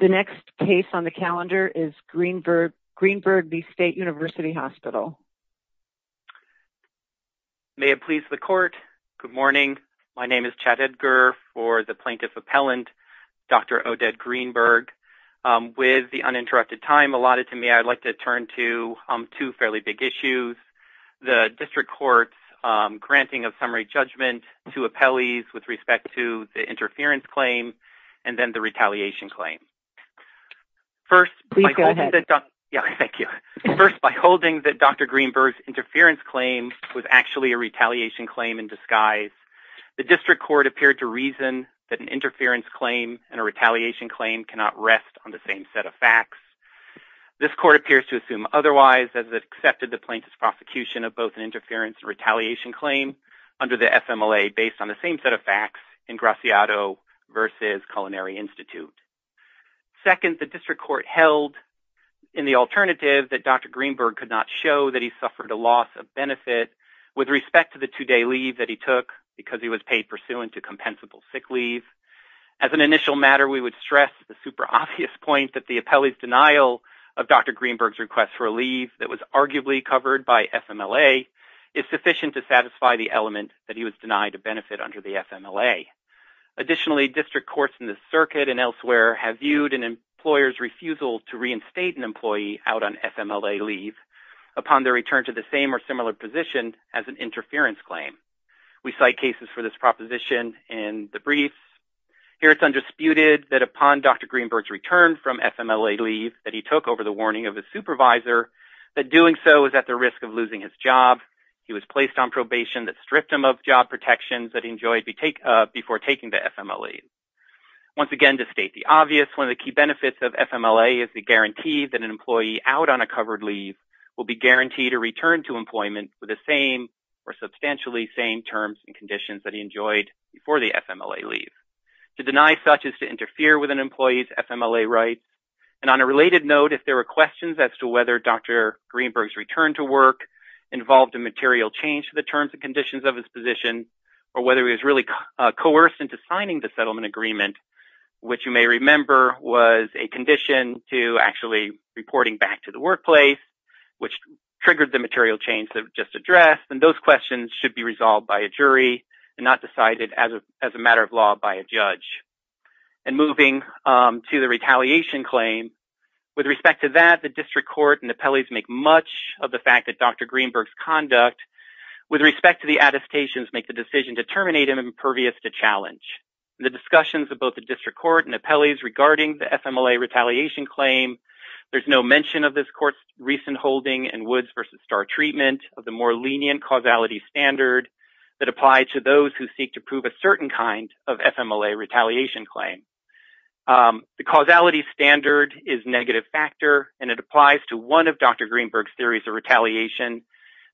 The next case on the calendar is Greenberg v. State University Hospital. May it please the court. Good morning. My name is Chad Edgar for the Plaintiff Appellant, Dr. Odette Greenberg. With the uninterrupted time allotted to me, I'd like to turn to two fairly big issues. The District Court's granting of summary judgment to appellees with respect to the interference claim and then the retaliation claim. Please go ahead. First, by holding that Dr. Greenberg's interference claim was actually a retaliation claim in disguise, the District Court appeared to reason that an interference claim and a retaliation claim cannot rest on the same set of facts. This court appears to assume otherwise as it accepted the plaintiff's prosecution of both an interference and retaliation claim under the FMLA based on the same set of facts in Graciado v. Culinary Institute. Second, the District Court held in the alternative that Dr. Greenberg could not show that he suffered a loss of benefit with respect to the two-day leave that he took because he was paid pursuant to compensable sick leave. As an initial matter, we would stress the super obvious point that the appellee's denial of Dr. Greenberg's request for leave that was arguably covered by FMLA is sufficient to satisfy the element that he was denied a benefit under the FMLA. Additionally, District Courts in the circuit and elsewhere have viewed an employer's refusal to reinstate an employee out on FMLA leave upon their return to the same or similar position as an interference claim. We cite cases for this proposition in the brief. Here it's undisputed that upon Dr. Greenberg's return from FMLA leave that he took over the warning of his supervisor that doing so was at the risk of losing his job. He was placed on probation that stripped him of job protections that he enjoyed before taking the FMLA leave. Once again, to state the obvious, one of the key benefits of FMLA is the guarantee that an employee out on a covered leave will be guaranteed a return to employment with the same or substantially same terms and conditions that he enjoyed before the FMLA leave. To deny such is to interfere with an employee's FMLA rights. And on a related note, if there were questions as to whether Dr. Greenberg's return to work involved a material change to the terms and conditions of his position or whether he was really coerced into signing the settlement agreement, which you may remember was a condition to actually reporting back to the workplace, which triggered the material change that was just addressed, then those questions should be resolved by a jury and not decided as a matter of law by a judge. And moving to the retaliation claim, with respect to that, the district court and appellees make much of the fact that Dr. Greenberg's conduct with respect to the attestations make the decision to terminate him impervious to challenge. The discussions of both the district court and appellees regarding the FMLA retaliation claim, there's no mention of this court's recent holding and Woods versus Starr treatment of the more lenient causality standard that applied to those who seek to prove a certain kind of FMLA retaliation claim. The causality standard is negative factor, and it applies to one of Dr. Greenberg's theories of retaliation,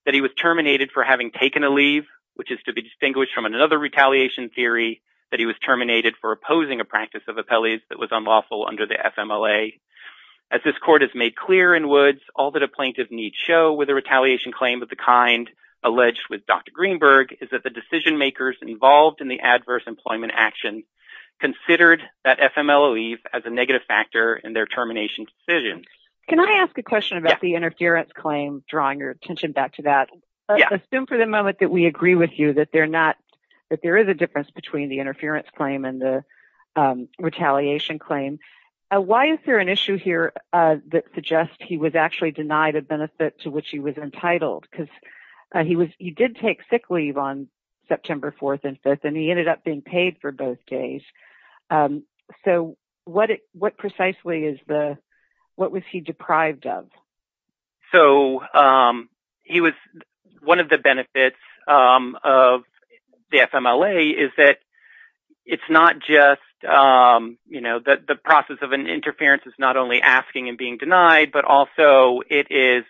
that he was terminated for having taken a leave, which is to be distinguished from another retaliation theory, that he was terminated for opposing a practice of appellees that was unlawful under the FMLA. As this court has made clear in Woods, all that a plaintiff needs show with a retaliation claim of the kind alleged with Dr. Greenberg is that the decision makers involved in the adverse employment action considered that FMLA leave as a negative factor in their termination decision. Can I ask a question about the interference claim, drawing your attention back to that? Assume for the moment that we agree with you that there is a difference between the interference claim and the retaliation claim. Why is there an issue here that suggests he was actually denied a benefit to which he was entitled? Because he did take sick leave on September 4th and 5th, and he ended up being paid for both days. What precisely was he deprived of? One of the benefits of the FMLA is that it's not just the process of an interference is not only asking and being denied, but also it is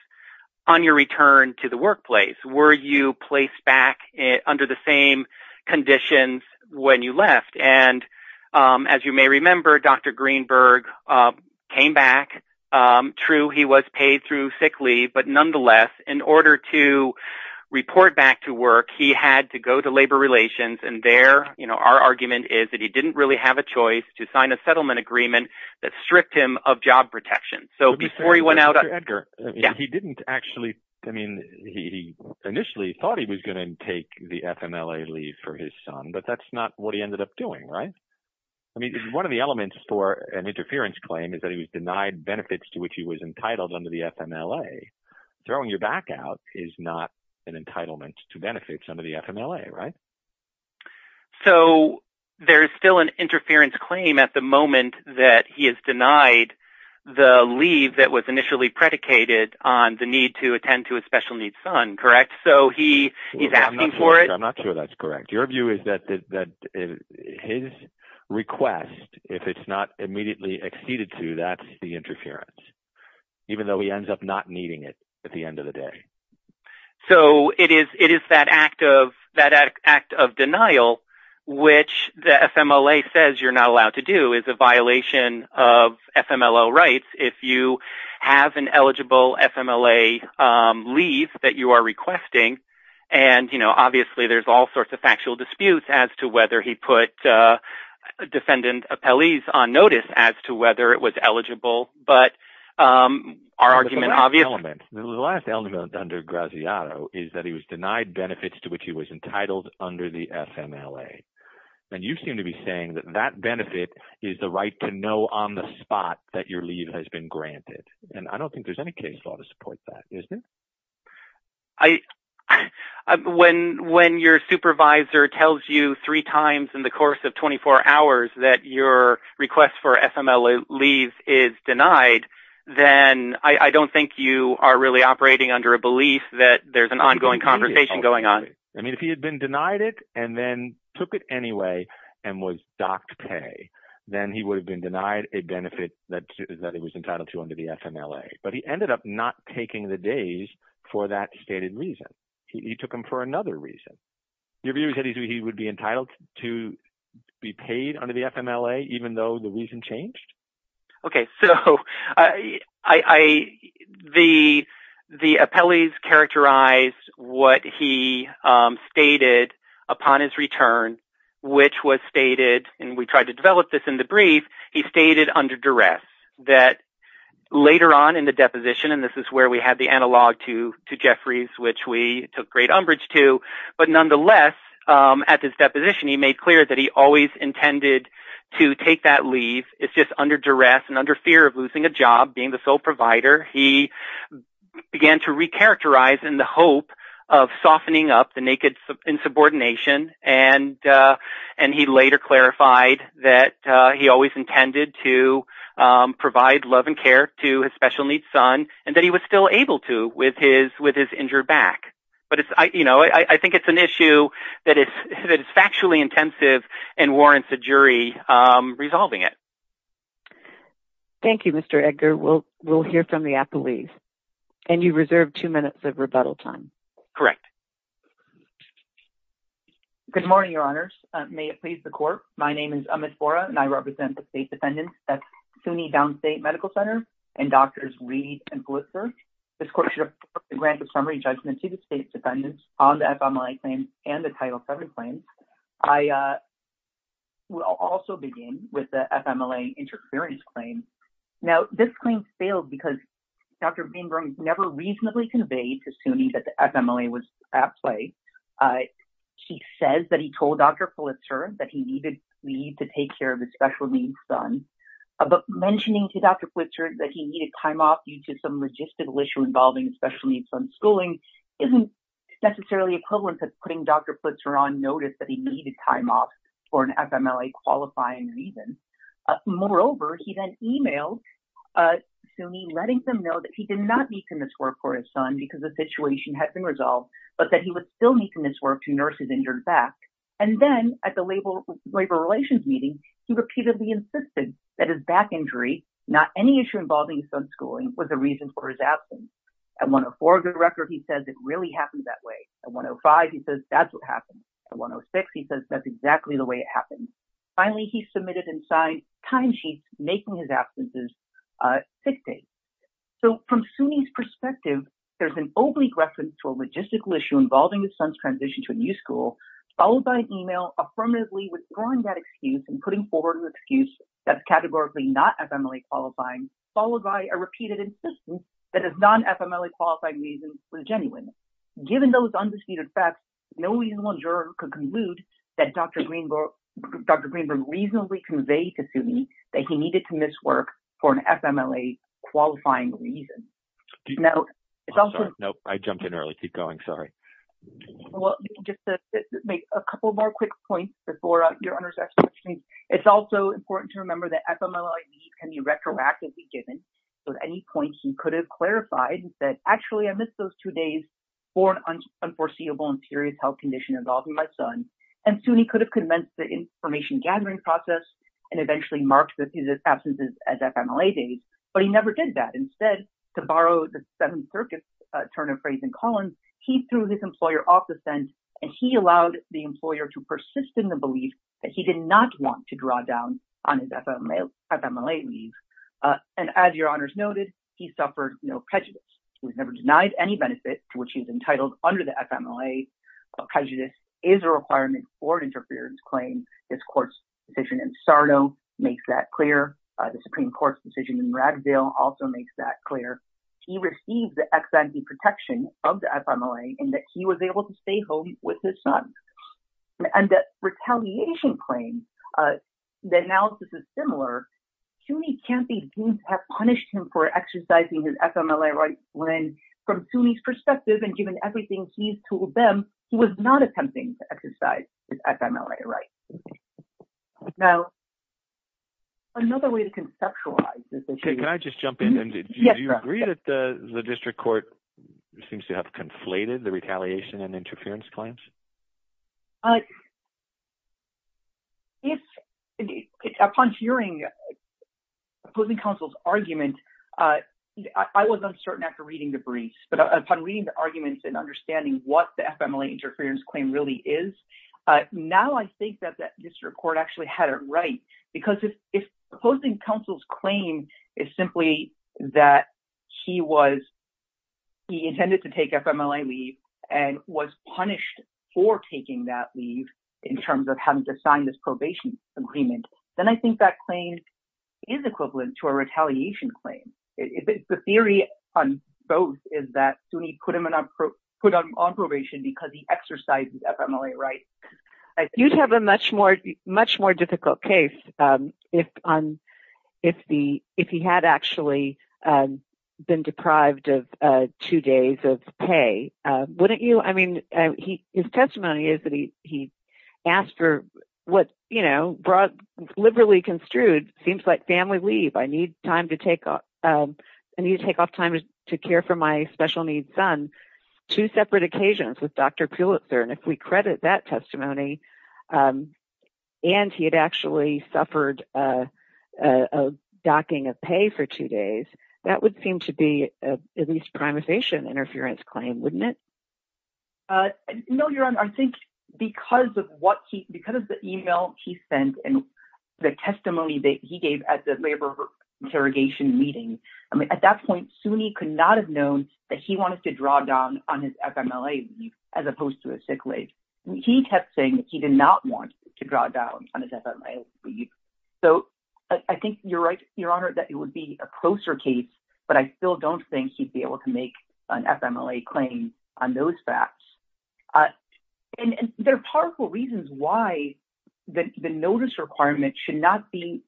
on your return to the workplace, were you placed back under the same conditions when you left? As you may remember, Dr. Greenberg came back. True, he was paid through sick leave, but nonetheless, in order to report back to work, he had to go to labor relations. Our argument is that he didn't really have a choice to sign a settlement agreement that stripped him of job protection. He initially thought he was going to take the FMLA leave for his son, but that's not what he ended up doing, right? One of the elements for an interference claim is that he was denied benefits to which he was entitled under the FMLA. Throwing your back out is not an entitlement to benefits under the FMLA, right? There is still an interference claim at the moment that he is denied the leave that was initially predicated on the need to attend to his special needs son, correct? I'm not sure that's correct. Your view is that his request, if it's not immediately acceded to, that's the interference, even though he ends up not needing it at the end of the day. It is that act of denial, which the FMLA says you're not allowed to do. It's a violation of FMLA rights if you have an eligible FMLA leave that you are requesting. Obviously, there are all sorts of factual disputes as to whether he put defendant appellees on notice as to whether it was eligible. The last element under Graziato is that he was denied benefits to which he was entitled under the FMLA. You seem to be saying that that benefit is the right to know on the spot that your leave has been granted. I don't think there's any case law to support that, is there? When your supervisor tells you three times in the course of 24 hours that your request for FMLA leave is denied, then I don't think you are really operating under a belief that there's an ongoing conversation going on. If he had been denied it and then took it anyway and was docked pay, then he would have been denied a benefit that he was entitled to under the FMLA. But he ended up not taking the days for that stated reason. He took them for another reason. Your view is that he would be entitled to be paid under the FMLA even though the reason changed? Okay, so the appellees characterized what he stated upon his return, which was stated – and we tried to develop this in the brief – he stated under duress. Later on in the deposition – and this is where we had the analog to Jeffrey's, which we took great umbrage to – but nonetheless, at this deposition, he made clear that he always intended to take that leave. It's just under duress and under fear of losing a job, being the sole provider. He began to recharacterize in the hope of softening up the naked insubordination, and he later clarified that he always intended to provide love and care to his special needs son and that he was still able to with his injured back. But I think it's an issue that is factually intensive and warrants a jury resolving it. Thank you, Mr. Edgar. We'll hear from the appellees. And you reserve two minutes of rebuttal time. Correct. Good morning, Your Honors. May it please the Court. My name is Amit Bora, and I represent the State Defendants at SUNY Downstate Medical Center and Doctors Reed and Blitzer. This Court should report the grant of summary judgment to the State Defendants on the FMLA claim and the Title VII claim. I will also begin with the FMLA interference claim. Now, this claim failed because Dr. Greenberg never reasonably conveyed to SUNY that the FMLA was at play. She says that he told Dr. Blitzer that he needed leave to take care of his special needs son. But mentioning to Dr. Blitzer that he needed time off due to some logistical issue involving his special needs son's schooling isn't necessarily equivalent to putting Dr. Blitzer on notice that he needed time off for an FMLA-qualifying reason. Moreover, he then emailed SUNY, letting them know that he did not need to miss work for his son because the situation had been resolved, but that he would still need to miss work to nurse his injured back. And then at the labor relations meeting, he repeatedly insisted that his back injury, not any issue involving his son's schooling, was a reason for his absence. At 104, the record, he says it really happened that way. At 105, he says that's what happened. At 106, he says that's exactly the way it happened. Finally, he submitted and signed timesheets making his absence a sick date. So from SUNY's perspective, there's an oblique reference to a logistical issue involving his son's transition to a new school, followed by an email affirmatively withdrawing that excuse and putting forward an excuse that's categorically not FMLA-qualifying, followed by a repeated insistence that his non-FMLA-qualifying reason was genuine. Given those undisputed facts, no reasonable juror could conclude that Dr. Greenberg reasonably conveyed to SUNY that he needed to miss work for an FMLA-qualifying reason. No, I jumped in early. Keep going. Sorry. Well, just to make a couple more quick points before your Honor's questions, it's also important to remember that FMLA needs can be retroactively given. So at any point, he could have clarified and said, actually, I missed those two days for an unforeseeable and serious health condition involving my son. And SUNY could have convinced the information-gathering process and eventually marked his absence as an FMLA date, but he never did that. Instead, to borrow the Seventh Circuit's turn of phrase in Collins, he threw his employer off the fence, and he allowed the employer to persist in the belief that he did not want to draw down on his FMLA leave. And as your Honor's noted, he suffered no prejudice. He was never denied any benefit to which he was entitled under the FMLA. Prejudice is a requirement for an interference claim. His court's decision in Sarno makes that clear. The Supreme Court's decision in Raddville also makes that clear. He received the ex-ante protection of the FMLA in that he was able to stay home with his son. And the retaliation claims, the analysis is similar. SUNY can't be deemed to have punished him for exercising his FMLA rights when, from SUNY's perspective and given everything he's told them, he was not attempting to exercise his FMLA rights. Now, another way to conceptualize this issue… If, upon hearing opposing counsel's argument, I was uncertain after reading the briefs, but upon reading the arguments and understanding what the FMLA interference claim really is, now I think that this court actually had it right. Because if opposing counsel's claim is simply that he intended to take FMLA leave and was punished for taking that leave in terms of having to sign this probation agreement, then I think that claim is equivalent to a retaliation claim. The theory on both is that SUNY put him on probation because he exercised his FMLA rights. You'd have a much more difficult case if he had actually been deprived of two days of pay, wouldn't you? I mean, his testimony is that he asked for what, you know, liberally construed seems like family leave. I need to take off time to care for my special needs son. Two separate occasions with Dr. Pulitzer. And if we credit that testimony and he had actually suffered a docking of pay for two days, that would seem to be at least a primifacient interference claim, wouldn't it? No, Your Honor, I think because of what he because of the email he sent and the testimony that he gave at the labor interrogation meeting. I mean, at that point, SUNY could not have known that he wanted to draw down on his FMLA leave as opposed to a sick leave. He kept saying he did not want to draw down on his FMLA leave. So I think you're right, Your Honor, that it would be a closer case. But I still don't think he'd be able to make an FMLA claim on those facts. And there are powerful reasons why the notice requirement should not be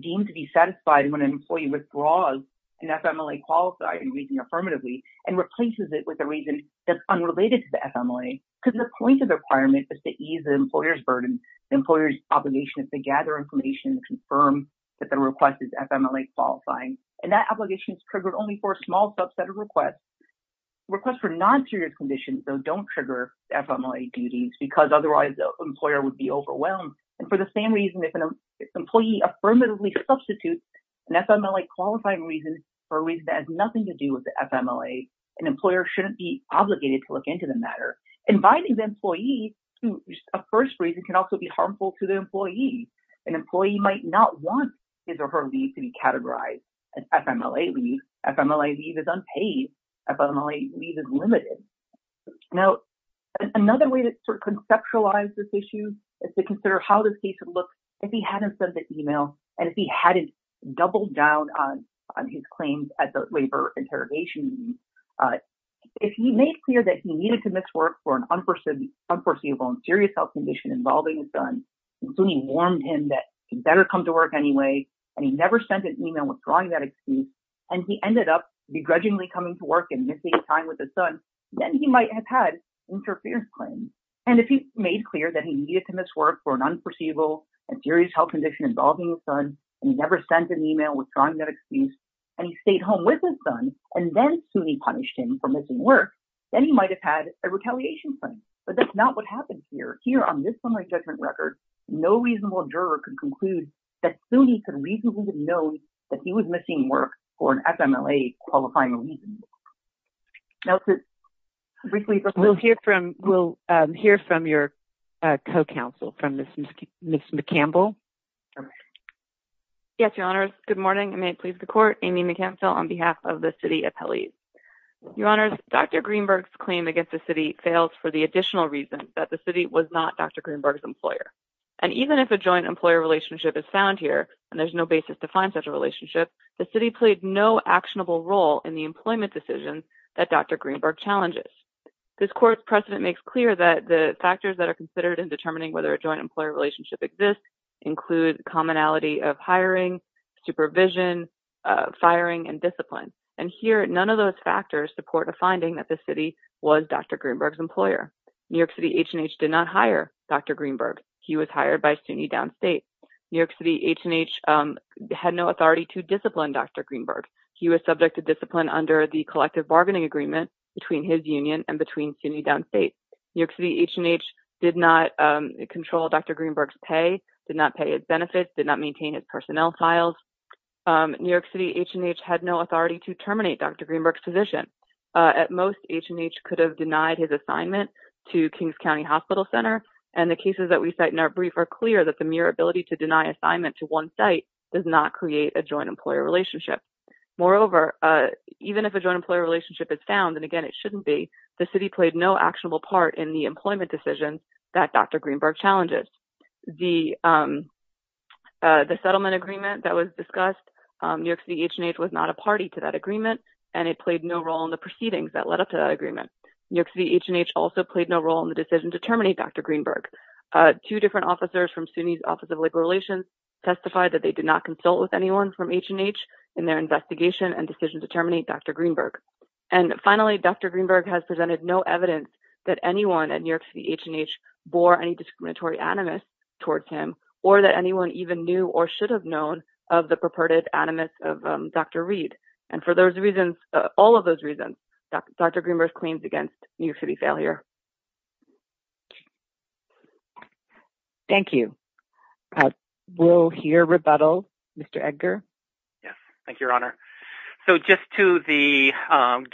deemed to be satisfied when an employee withdraws an FMLA qualifying reason affirmatively and replaces it with a reason that's unrelated to the FMLA. Because the point of the requirement is to ease the employer's burden. The employer's obligation is to gather information and confirm that the request is FMLA qualifying. And that obligation is triggered only for a small subset of requests. Requests for non-period conditions, though, don't trigger FMLA duties because otherwise the employer would be overwhelmed. And for the same reason, if an employee affirmatively substitutes an FMLA qualifying reason for a reason that has nothing to do with the FMLA, an employer shouldn't be obligated to look into the matter. Inviting the employee to a first reason can also be harmful to the employee. An employee might not want his or her leave to be categorized as FMLA leave. FMLA leave is unpaid. FMLA leave is limited. Now, another way to conceptualize this issue is to consider how this case would look if he hadn't sent the email and if he hadn't doubled down on his claims at the labor interrogation. If he made clear that he needed to miss work for an unforeseeable and serious health condition involving his son, and soon he warned him that he better come to work anyway, and he never sent an email withdrawing that excuse, and he ended up begrudgingly coming to work and missing time with his son, then he might have had interference claims. And if he made clear that he needed to miss work for an unforeseeable and serious health condition involving his son, and he never sent an email withdrawing that excuse, and he stayed home with his son, and then soon he punished him for missing work, then he might have had a retaliation claim. But that's not what happened here. Here on this summary judgment record, no reasonable juror can conclude that soon he could reasonably know that he was missing work for an FMLA qualifying reason. We'll hear from your co-counsel, from Ms. McCampbell. Yes, Your Honors. Good morning, and may it please the Court. Amy McCampbell on behalf of the city appellees. Your Honors, Dr. Greenberg's claim against the city fails for the additional reason that the city was not Dr. Greenberg's employer. And even if a joint employer relationship is found here, and there's no basis to find such a relationship, the city played no actionable role in the employment decisions that Dr. Greenberg challenges. This Court's precedent makes clear that the factors that are considered in determining whether a joint employer relationship exists include commonality of hiring, supervision, firing, and discipline. And here, none of those factors support a finding that the city was Dr. Greenberg's employer. New York City H&H did not hire Dr. Greenberg. He was hired by SUNY Downstate. New York City H&H had no authority to discipline Dr. Greenberg. He was subject to discipline under the collective bargaining agreement between his union and between SUNY Downstate. New York City H&H did not control Dr. Greenberg's pay, did not pay his benefits, did not maintain his personnel files. New York City H&H had no authority to terminate Dr. Greenberg's position. At most, H&H could have denied his assignment to Kings County Hospital Center. And the cases that we cite in our brief are clear that the mere ability to deny assignment to one site does not create a joint employer relationship. Moreover, even if a joint employer relationship is found, and again, it shouldn't be, the city played no actionable part in the employment decisions that Dr. Greenberg challenges. The settlement agreement that was discussed, New York City H&H was not a party to that agreement, and it played no role in the proceedings that led up to that agreement. New York City H&H also played no role in the decision to terminate Dr. Greenberg. Two different officers from SUNY's Office of Legal Relations testified that they did not consult with anyone from H&H in their investigation and decision to terminate Dr. Greenberg. And finally, Dr. Greenberg has presented no evidence that anyone at New York City H&H bore any discriminatory animus towards him, or that anyone even knew or should have known of the purported animus of Dr. Reed. And for those reasons, all of those reasons, Dr. Greenberg claims against New York City failure. Thank you. We'll hear rebuttal. Mr. Edgar. Yes. Thank you, Your Honor. So just to the,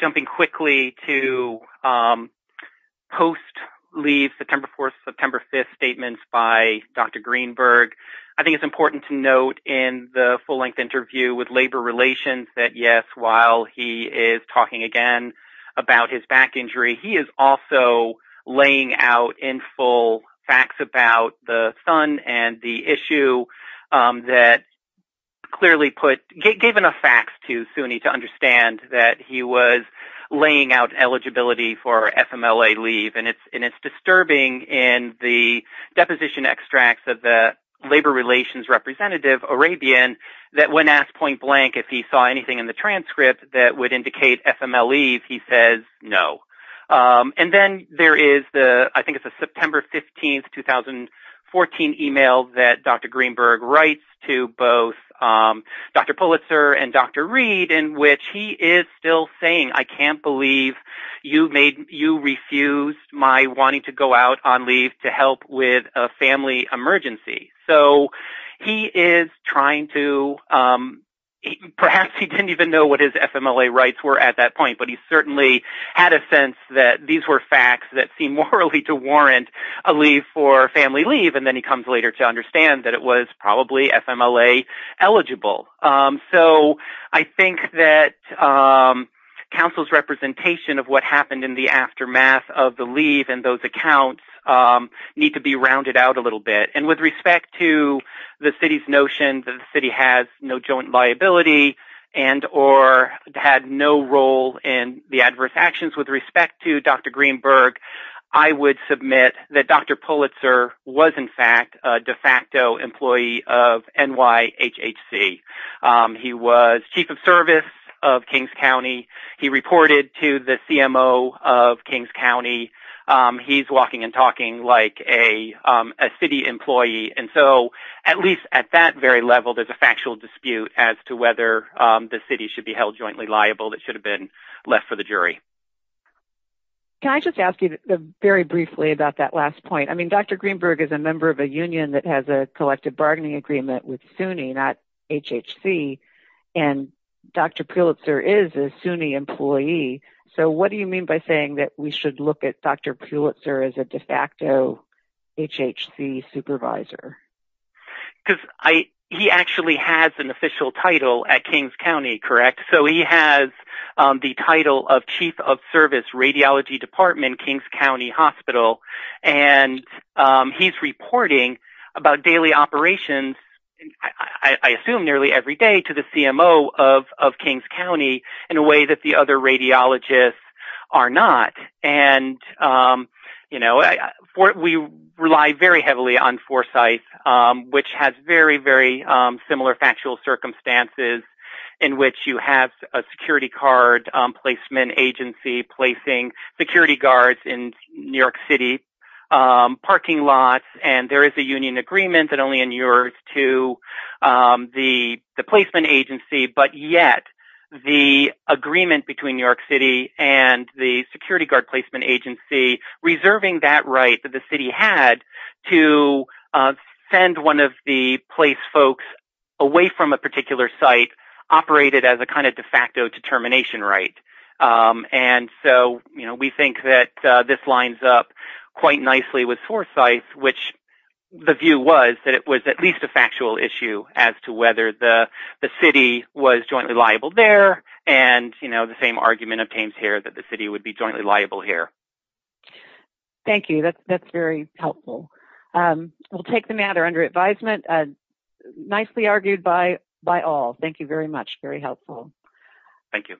jumping quickly to post-leave September 4th, September 5th statements by Dr. Greenberg, I think it's important to note in the full-length interview with Labor Relations that, yes, while he is talking again about his back injury, he is also laying out in full facts about the son and the issue that clearly put, gave enough facts to SUNY to understand that he was laying out eligibility for FMLA leave. And it's disturbing in the deposition extracts of the Labor Relations representative, Arabian, that when asked point blank if he saw anything in the transcript that would indicate FMLA leave, he says no. And then there is the, I think it's a September 15th, 2014 email that Dr. Greenberg writes to both Dr. Pulitzer and Dr. Reed, in which he is still saying, I can't believe you made, you refused my wanting to go out on leave to help with a family emergency. So he is trying to, perhaps he didn't even know what his FMLA rights were at that point, but he certainly had a sense that these were facts that seem morally to warrant a leave for family leave. And then he comes later to understand that it was probably FMLA eligible. So I think that counsel's representation of what happened in the aftermath of the leave and those accounts need to be rounded out a little bit. And with respect to the city's notion that the city has no joint liability and or had no role in the adverse actions with respect to Dr. Greenberg, I would submit that Dr. Pulitzer was in fact a de facto employee of NYHHC. He was chief of service of Kings County. He reported to the CMO of Kings County. He's walking and talking like a city employee. And so at least at that very level, there's a factual dispute as to whether the city should be held jointly liable that should have been left for the jury. Can I just ask you very briefly about that last point? I mean, Dr. Greenberg is a member of a union that has a collective bargaining agreement with SUNY, not HHC. And Dr. Pulitzer is a SUNY employee. So what do you mean by saying that we should look at Dr. Pulitzer as a de facto HHC supervisor? Because he actually has an official title at Kings County, correct? So he has the title of Chief of Service, Radiology Department, Kings County Hospital. And he's reporting about daily operations. I assume nearly every day to the CMO of Kings County in a way that the other radiologists are not. And, you know, we rely very heavily on Foresight, which has very, very similar factual circumstances in which you have a security card placement agency placing security guards in New York City parking lots. And there is a union agreement that only in yours to the placement agency. But yet the agreement between New York City and the security guard placement agency, reserving that right that the city had to send one of the place folks away from a particular site operated as a kind of de facto determination. Right. And so, you know, we think that this lines up quite nicely with Foresight, which the view was that it was at least a factual issue as to whether the city was jointly liable there. And, you know, the same argument obtains here that the city would be jointly liable here. Thank you. That's very helpful. We'll take the matter under advisement. Nicely argued by by all. Thank you very much. Very helpful. Thank you.